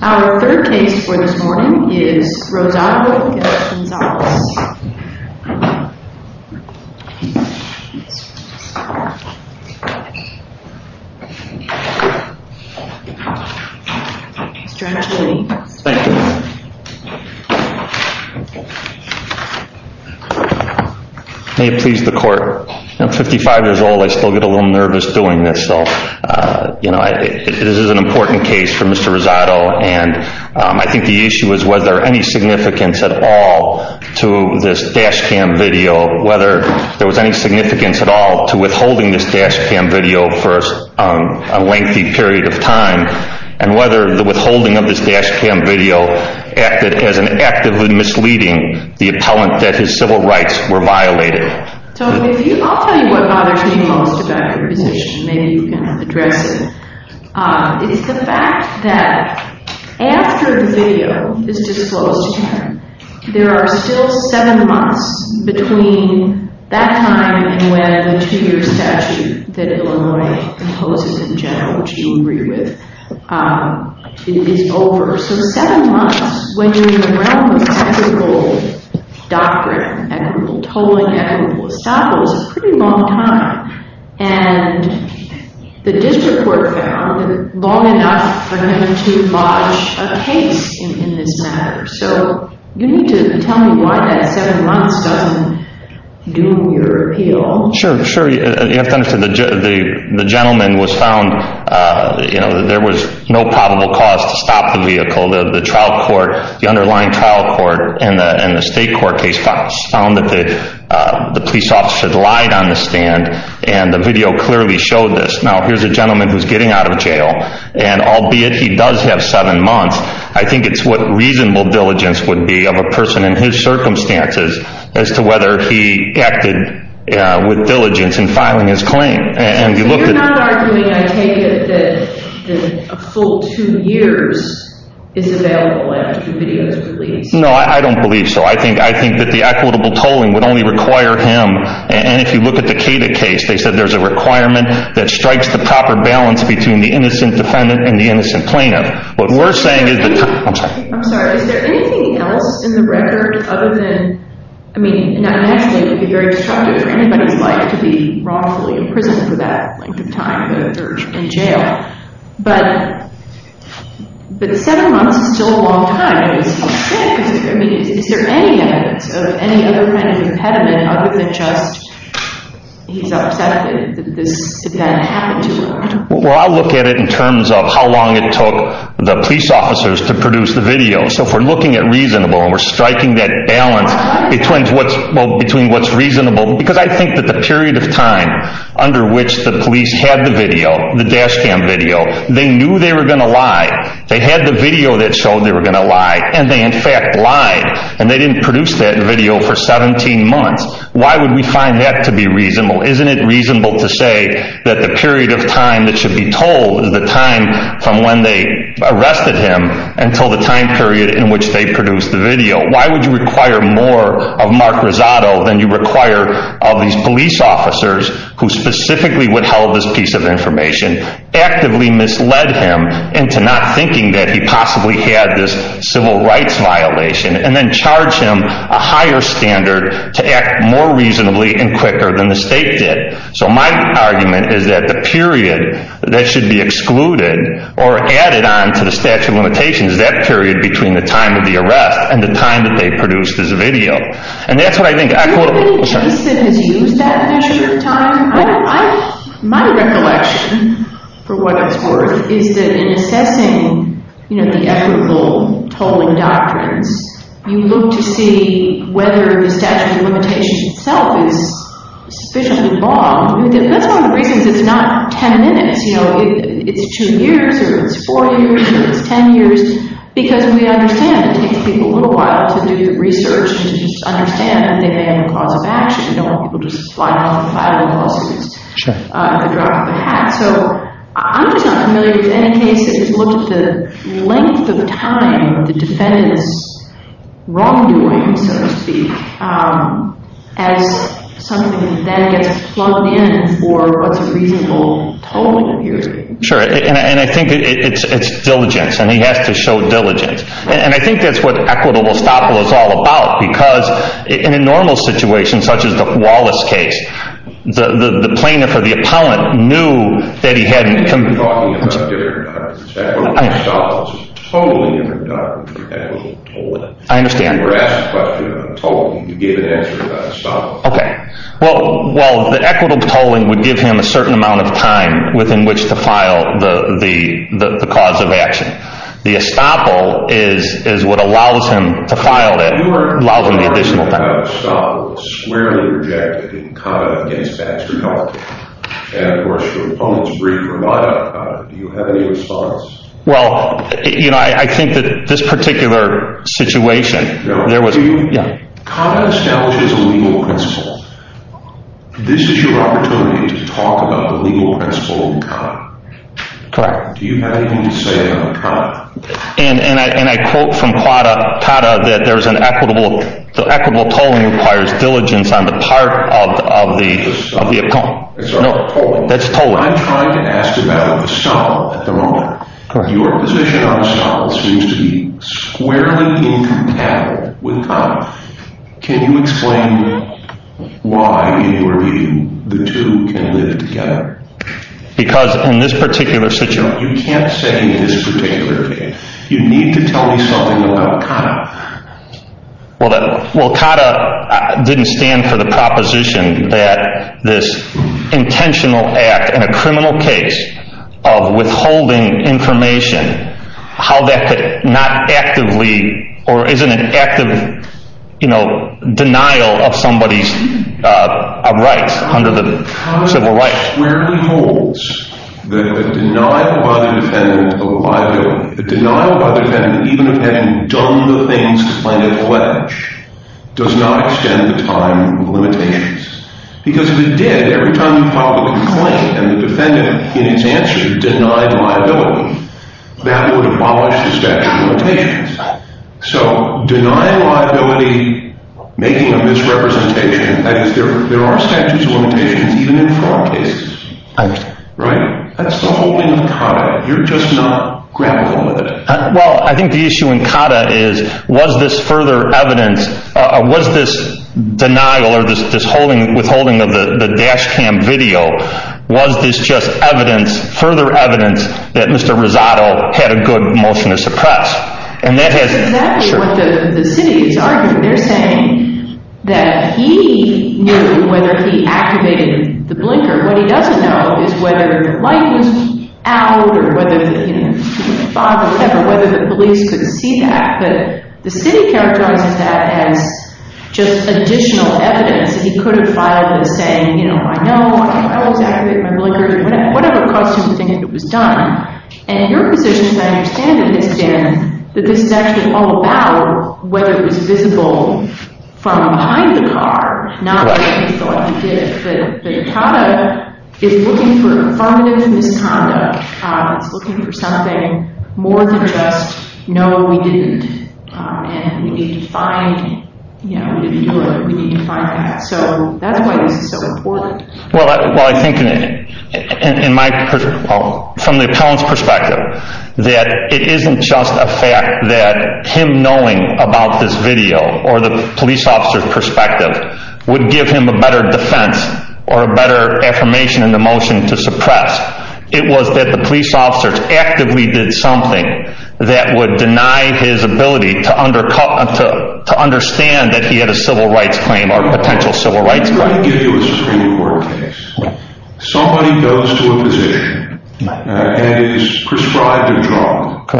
Our third case for this morning is Rosado v. Billy Gonzalez. Mr. Angelini. Thank you. May it please the court, I'm 55 years old, I still get a little nervous doing this. This is an important case for Mr. Rosado and I think the issue is whether there was any significance at all to this dash cam video. Whether there was any significance at all to withholding this dash cam video for a lengthy period of time. And whether the withholding of this dash cam video acted as an act of misleading the appellant that his civil rights were violated. So I'll tell you what bothers me most about your position, maybe you can address it. It's the fact that after the video is disclosed to him, there are still seven months between that time and when the two year statute that Illinois imposes in general, which you agree with, is over. So seven months, when you're in the realm of technical doctrine, equitable tolling, equitable estoppel, is a pretty long time. And the district court found long enough for him to lodge a case in this matter. So you need to tell me why that seven months doesn't do your appeal. Sure, you have to understand the gentleman was found, there was no probable cause to stop the vehicle. The trial court, the underlying trial court and the state court case found that the police officer lied on the stand and the video clearly showed this. Now here's a gentleman who's getting out of jail and albeit he does have seven months, I think it's what reasonable diligence would be of a person in his circumstances as to whether he acted with diligence in filing his claim. So you're not arguing, I take it, that a full two years is available after the video is released? No, I don't believe so. I think that the equitable tolling would only require him. And if you look at the Cata case, they said there's a requirement that strikes the proper balance between the innocent defendant and the innocent plaintiff. I'm sorry, is there anything else in the record other than, I mean in that case it would be very destructive for anybody's life to be wrongfully imprisoned for that length of time in jail. But seven months is still a long time, is there any evidence of any other kind of impediment other than just he's upset that this event happened to him? Well I'll look at it in terms of how long it took the police officers to produce the video. So if we're looking at reasonable and we're striking that balance between what's reasonable. Because I think that the period of time under which the police had the video, the dash cam video, they knew they were going to lie. They had the video that showed they were going to lie and they in fact lied. And they didn't produce that video for 17 months. Why would we find that to be reasonable? Isn't it reasonable to say that the period of time that should be told is the time from when they arrested him until the time period in which they produced the video. Why would you require more of Mark Rosato than you require of these police officers who specifically would hold this piece of information. Actively misled him into not thinking that he possibly had this civil rights violation. And then charge him a higher standard to act more reasonably and quicker than the state did. So my argument is that the period that should be excluded or added on to the statute of limitations is that period between the time of the arrest and the time that they produced this video. Do you think Jason has used that measure of time? My recollection, for what it's worth, is that in assessing the equitable tolling doctrines, you look to see whether the statute of limitations itself is sufficiently long. That's one of the reasons it's not 10 minutes. It's two years, or it's four years, or it's 10 years. Because we understand it takes people a little while to do the research and to understand that they may have a cause of action. We don't want people to just fly off and file a lawsuit at the drop of a hat. So I'm just not familiar with any case that has looked at the length of time the defendant is wrongdoing, so to speak, as something that then gets plugged in for what's a reasonable tolling of years. Sure, and I think it's diligence, and he has to show diligence. And I think that's what equitable tolling is all about. Because in a normal situation, such as the Wallace case, the plaintiff or the appellant knew that he hadn't… Talking about different doctrines. I understand. Equitable tolling is a totally different doctrine from equitable tolling. I understand. You were asked a question about tolling. You gave an answer about estoppel. Okay. Well, the equitable tolling would give him a certain amount of time within which to file the cause of action. The estoppel is what allows him to file it, allows him the additional time. You were asked a question about estoppel. It was squarely rejected in Conda v. Baxter County. And, of course, your opponent's brief were not about Conda. Do you have any response? Well, you know, I think that this particular situation, there was… No. Yeah. Conda establishes a legal principle. This is your opportunity to talk about the legal principle of Conda. Correct. Do you have anything to say on Conda? And I quote from Coda that there's an equitable… The equitable tolling requires diligence on the part of the opponent. It's not tolling. That's tolling. I'm trying to ask about estoppel at the moment. Correct. Your position on estoppel seems to be squarely incompatible with Conda. Can you explain why, in your view, the two can live together? Because in this particular situation… You can't say in this particular case. You need to tell me something about Conda. Well, Conda didn't stand for the proposition that this intentional act in a criminal case of withholding information, how that could not actively or isn't an active, you know, denial of somebody's rights under the civil rights. That squarely holds that the denial by the defendant of liability, the denial by the defendant even of having done the things to plan a fledge, does not extend the time limitations. Because if it did, every time you filed a complaint and the defendant, in its answer, denied liability, that would abolish the statute of limitations. So denying liability, making a misrepresentation, that is, there are statutes of limitations even in fraud cases. I understand. Right? That's the whole thing with Conda. You're just not grappling with it. Well, I think the issue in Conda is, was this further evidence, was this denial or this withholding of the dash cam video, was this just evidence, further evidence, that Mr. Rosato had a good motion to suppress? And that has… That's exactly what the city is arguing. They're saying that he knew whether he activated the blinker. What he doesn't know is whether the light was out, or whether the police could see that. But the city characterizes that as just additional evidence. He could have filed it saying, you know, I know I was activating my blinker, whatever caused him to think it was done. And your position, as I understand it, Mr. Chairman, that this is actually all about whether it was visible from behind the car, not whether he thought he did it. But Conda is looking for affirmative misconduct. It's looking for something more than just, no, we didn't. And we need to find, you know, we didn't do it. We need to find that. So that's why this is so important. Well, I think from the appellant's perspective, that it isn't just a fact that him knowing about this video, or the police officer's perspective, would give him a better defense or a better affirmation in the motion to suppress. It was that the police officers actively did something that would deny his ability to understand that he had a civil rights claim or potential civil rights claim. Let me try to give you a Supreme Court case. Somebody goes to a physician and is prescribed a drug.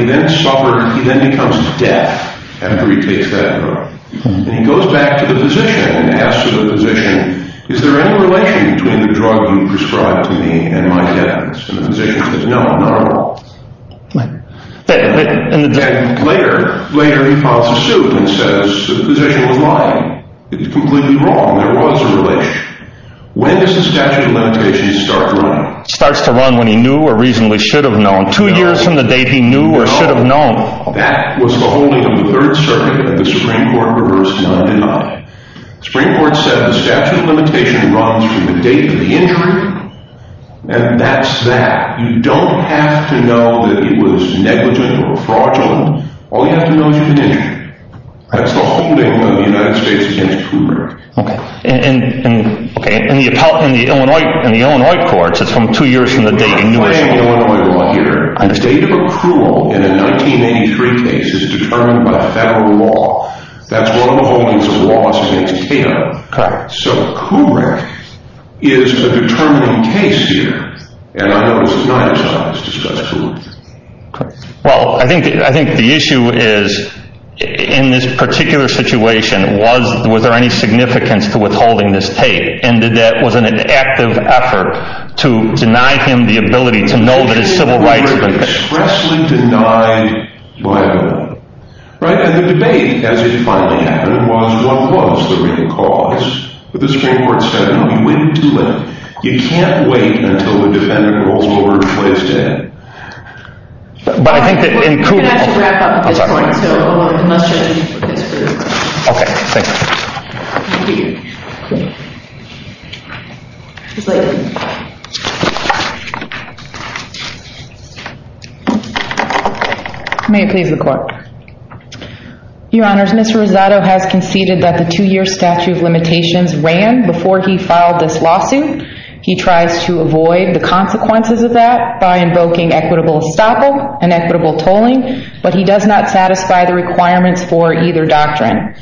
He then suffers, he then becomes deaf after he takes that drug. And he goes back to the physician and asks the physician, is there any relation between the drug you prescribed to me and my deafness? And the physician says, no, not at all. And later, he calls the suit and says, the physician was lying. It was completely wrong. There was a relation. When does the statute of limitations start running? It starts to run when he knew or reasonably should have known. Two years from the date he knew or should have known. That was the holding of the Third Circuit. The Supreme Court reversed that and denied it. The Supreme Court said the statute of limitations runs from the date of the injury, and that's that. You don't have to know that he was negligent or fraudulent. All you have to know is that he was injured. That's the holding of the United States against Kubrick. Okay. In the Illinois courts, it's from two years from the date he knew or should have known. I am going on my own here. A date of accrual in a 1983 case is determined by federal law. That's one of the holdings of the law, so it's Kato. Correct. So Kubrick is a determining case here. And I know this is not a job that's discussed too much. Well, I think the issue is, in this particular situation, was there any significance to withholding this tape, and that that was an active effort to deny him the ability to know that his civil rights— Kubrick was expressly denied by the law. Right? And the debate, as it finally happened, was, well, what was the real cause? The Supreme Court said, no, you waited too long. You can't wait until the defendant rolls over and plays dead. But I think that in Kubrick— We're going to have to wrap up at this point, so unless there's anything for this group. Okay. Thank you. Thank you. May it please the Court. Your Honors, Mr. Rosado has conceded that the two-year statute of limitations ran before he filed this lawsuit. He tries to avoid the consequences of that by invoking equitable estoppel and equitable tolling, but he does not satisfy the requirements for either doctrine.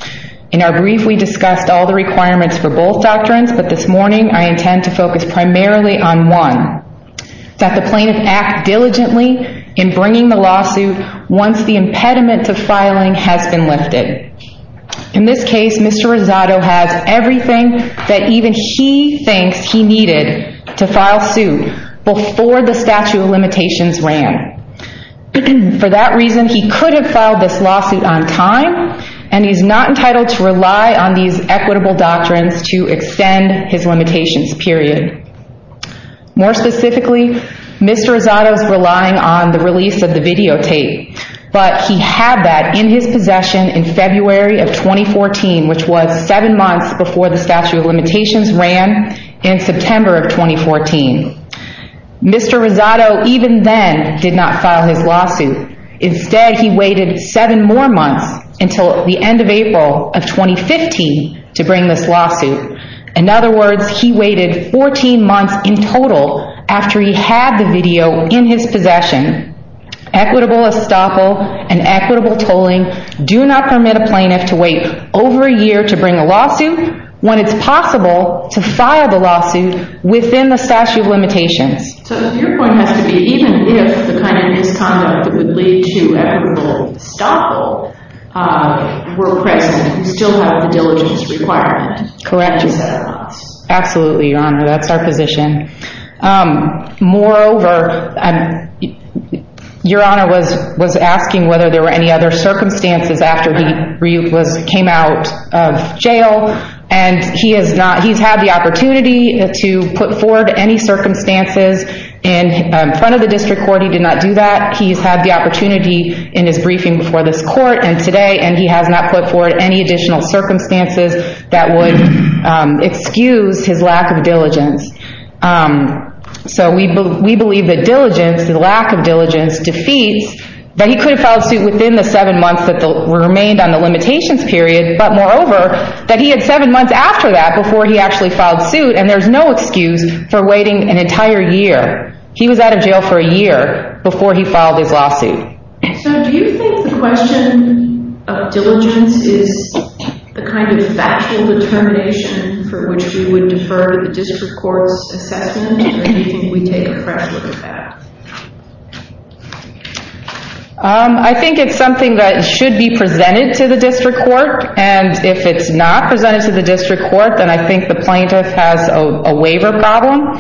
In our brief, we discussed all the requirements for both doctrines, but this morning I intend to focus primarily on one, that the plaintiff act diligently in bringing the lawsuit once the impediment to filing has been lifted. In this case, Mr. Rosado has everything that even he thinks he needed to file suit before the statute of limitations ran. For that reason, he could have filed this lawsuit on time, and he's not entitled to rely on these equitable doctrines to extend his limitations, period. More specifically, Mr. Rosado's relying on the release of the videotape, but he had that in his possession in February of 2014, which was seven months before the statute of limitations ran in September of 2014. Mr. Rosado, even then, did not file his lawsuit. Instead, he waited seven more months until the end of April of 2015 to bring this lawsuit. In other words, he waited 14 months in total after he had the video in his possession. Equitable estoppel and equitable tolling do not permit a plaintiff to wait over a year to bring a lawsuit when it's possible to file the lawsuit within the statute of limitations. So your point has to be, even if the kind of misconduct that would lead to equitable estoppel were present, you still have the diligence requirement. Correct. That's what you said. Absolutely, Your Honor. That's our position. Moreover, Your Honor was asking whether there were any other circumstances after he came out of jail, and he's had the opportunity to put forward any circumstances in front of the district court. He did not do that. He's had the opportunity in his briefing before this court and today, and he has not put forward any additional circumstances that would excuse his lack of diligence. So we believe that diligence, the lack of diligence, defeats that he could have filed suit within the seven months that remained on the limitations period, but moreover, that he had seven months after that before he actually filed suit, and there's no excuse for waiting an entire year. He was out of jail for a year before he filed his lawsuit. So do you think the question of diligence is the kind of factual determination for which we would defer to the district court's assessment, or do you think we take a fresh look at that? I think it's something that should be presented to the district court, and if it's not presented to the district court, then I think the plaintiff has a waiver problem.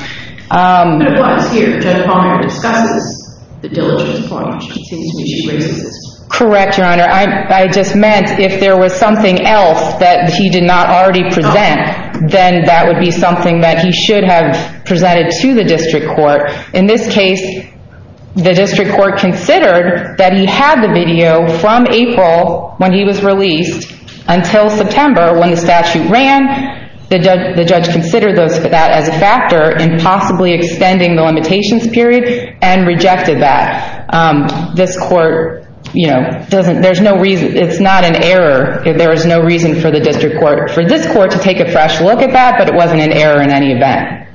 But it was here. Judge Palmer discusses the diligence point. He seems to be racist. Correct, Your Honor. I just meant if there was something else that he did not already present, then that would be something that he should have presented to the district court. In this case, the district court considered that he had the video from April when he was released until September when the statute ran. The judge considered that as a factor in possibly extending the limitations period and rejected that. It's not an error. There is no reason for the district court, for this court, to take a fresh look at that, but it wasn't an error in any event.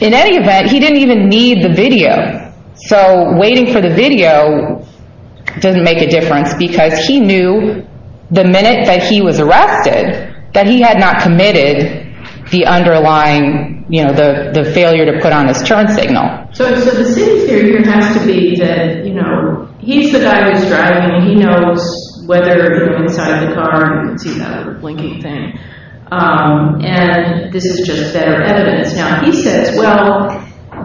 In any event, he didn't even need the video. Waiting for the video didn't make a difference because he knew the minute that he was arrested that he had not committed the underlying failure to put on his turn signal. The city's theory has to be that he's the guy who's driving, and he knows whether you're inside the car, and this is just better evidence. Now, he says, well,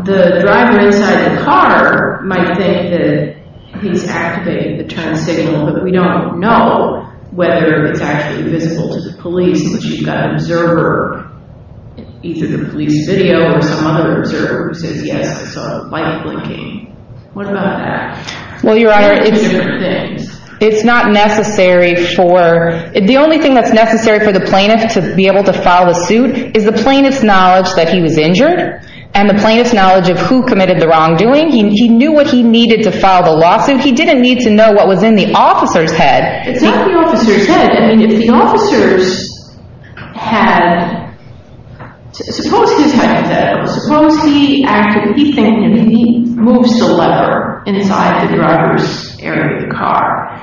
the driver inside the car might think that he's activating the turn signal, but we don't know whether it's actually visible to the police that you've got an observer, either the police video or some other observer who says, yes, I saw a light blinking. What about that? Well, Your Honor, it's not necessary for... The only thing that's necessary for the plaintiff to be able to file the suit is the plaintiff's knowledge that he was injured and the plaintiff's knowledge of who committed the wrongdoing. He knew what he needed to file the lawsuit. He didn't need to know what was in the officer's head. It's not the officer's head. I mean, if the officer's had... Suppose he's hypothetical. Suppose he moves the lever inside the driver's area of the car,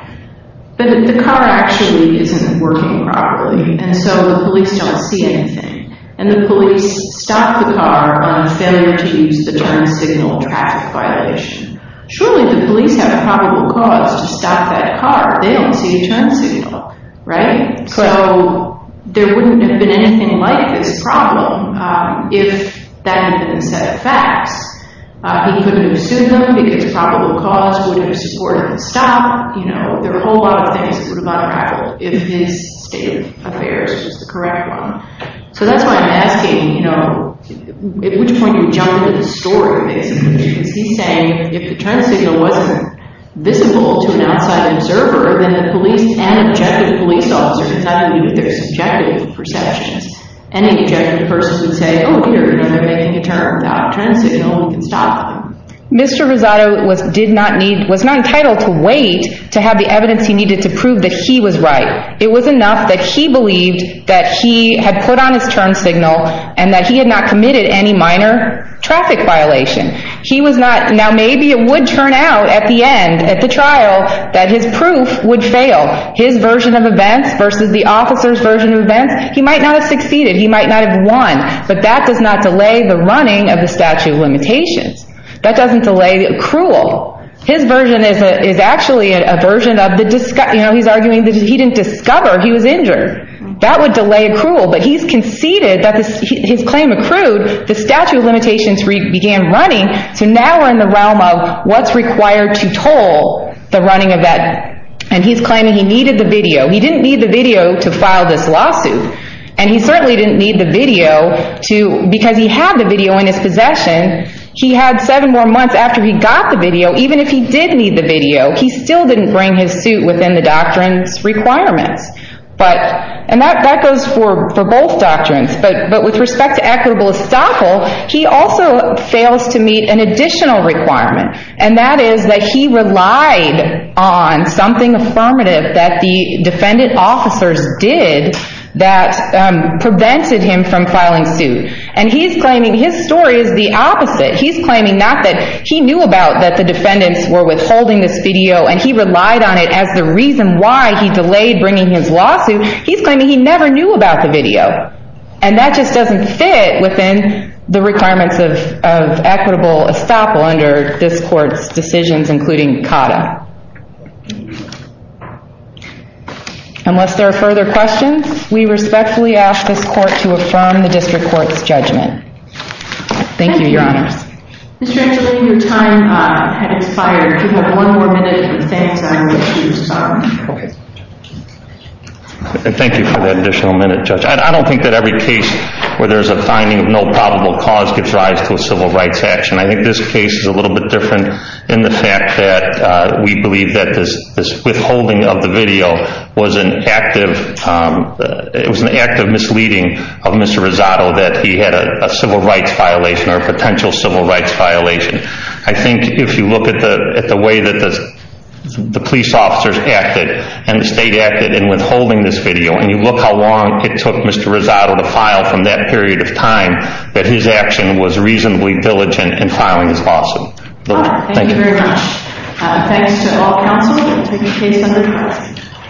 but the car actually isn't working properly, and so the police don't see anything, and the police stop the car on failure to use the turn signal traffic violation. Surely the police have probable cause to stop that car. They don't see a turn signal, right? So there wouldn't have been anything like this problem if that had been a set of facts. He couldn't have sued them because probable cause wouldn't have supported the stop. There are a whole lot of things that would have unraveled if his state of affairs was the correct one. So that's why I'm asking at which point you would jump into the story, basically. Because he's saying if the turn signal wasn't visible to an outside observer, then the police and objective police officers, I don't mean if they're subjective perceptions, any objective person would say, oh, here, they're making a turn without a turn signal, we can stop them. Mr. Rosado was not entitled to wait to have the evidence he needed to prove that he was right. It was enough that he believed that he had put on his turn signal and that he had not committed any minor traffic violation. Now maybe it would turn out at the end, at the trial, that his proof would fail. His version of events versus the officer's version of events, he might not have succeeded, he might not have won, but that does not delay the running of the statute of limitations. That doesn't delay accrual. His version is actually a version of the, you know, he's arguing that he didn't discover he was injured. That would delay accrual, but he's conceded that his claim accrued, the statute of limitations began running, so now we're in the realm of what's required to toll the running of that, and he's claiming he needed the video. He didn't need the video to file this lawsuit, and he certainly didn't need the video to, because he had the video in his possession, he had seven more months after he got the video, even if he did need the video, he still didn't bring his suit within the doctrine's requirements, and that goes for both doctrines, but with respect to equitable estoppel, he also fails to meet an additional requirement, and that is that he relied on something affirmative that the defendant officers did that prevented him from filing suit, and he's claiming his story is the opposite. He's claiming not that he knew about that the defendants were withholding this video, and he relied on it as the reason why he delayed bringing his lawsuit. He's claiming he never knew about the video, and that just doesn't fit within the requirements of equitable estoppel under this court's decisions, including CADA. Unless there are further questions, we respectfully ask this court to affirm the district court's judgment. Thank you, Your Honors. Mr. Angelini, your time has expired. If you have one more minute, we thank you. Thank you for that additional minute, Judge. I don't think that every case where there's a finding of no probable cause gives rise to a civil rights action. I think this case is a little bit different in the fact that we believe that this withholding of the video was an active misleading of Mr. Rosato, that he had a civil rights violation or a potential civil rights violation. I think if you look at the way that the police officers acted and the state acted in withholding this video, and you look how long it took Mr. Rosato to file from that period of time, that his action was reasonably diligent in filing his lawsuit. Thank you very much. Thanks to all counsel. Thank you.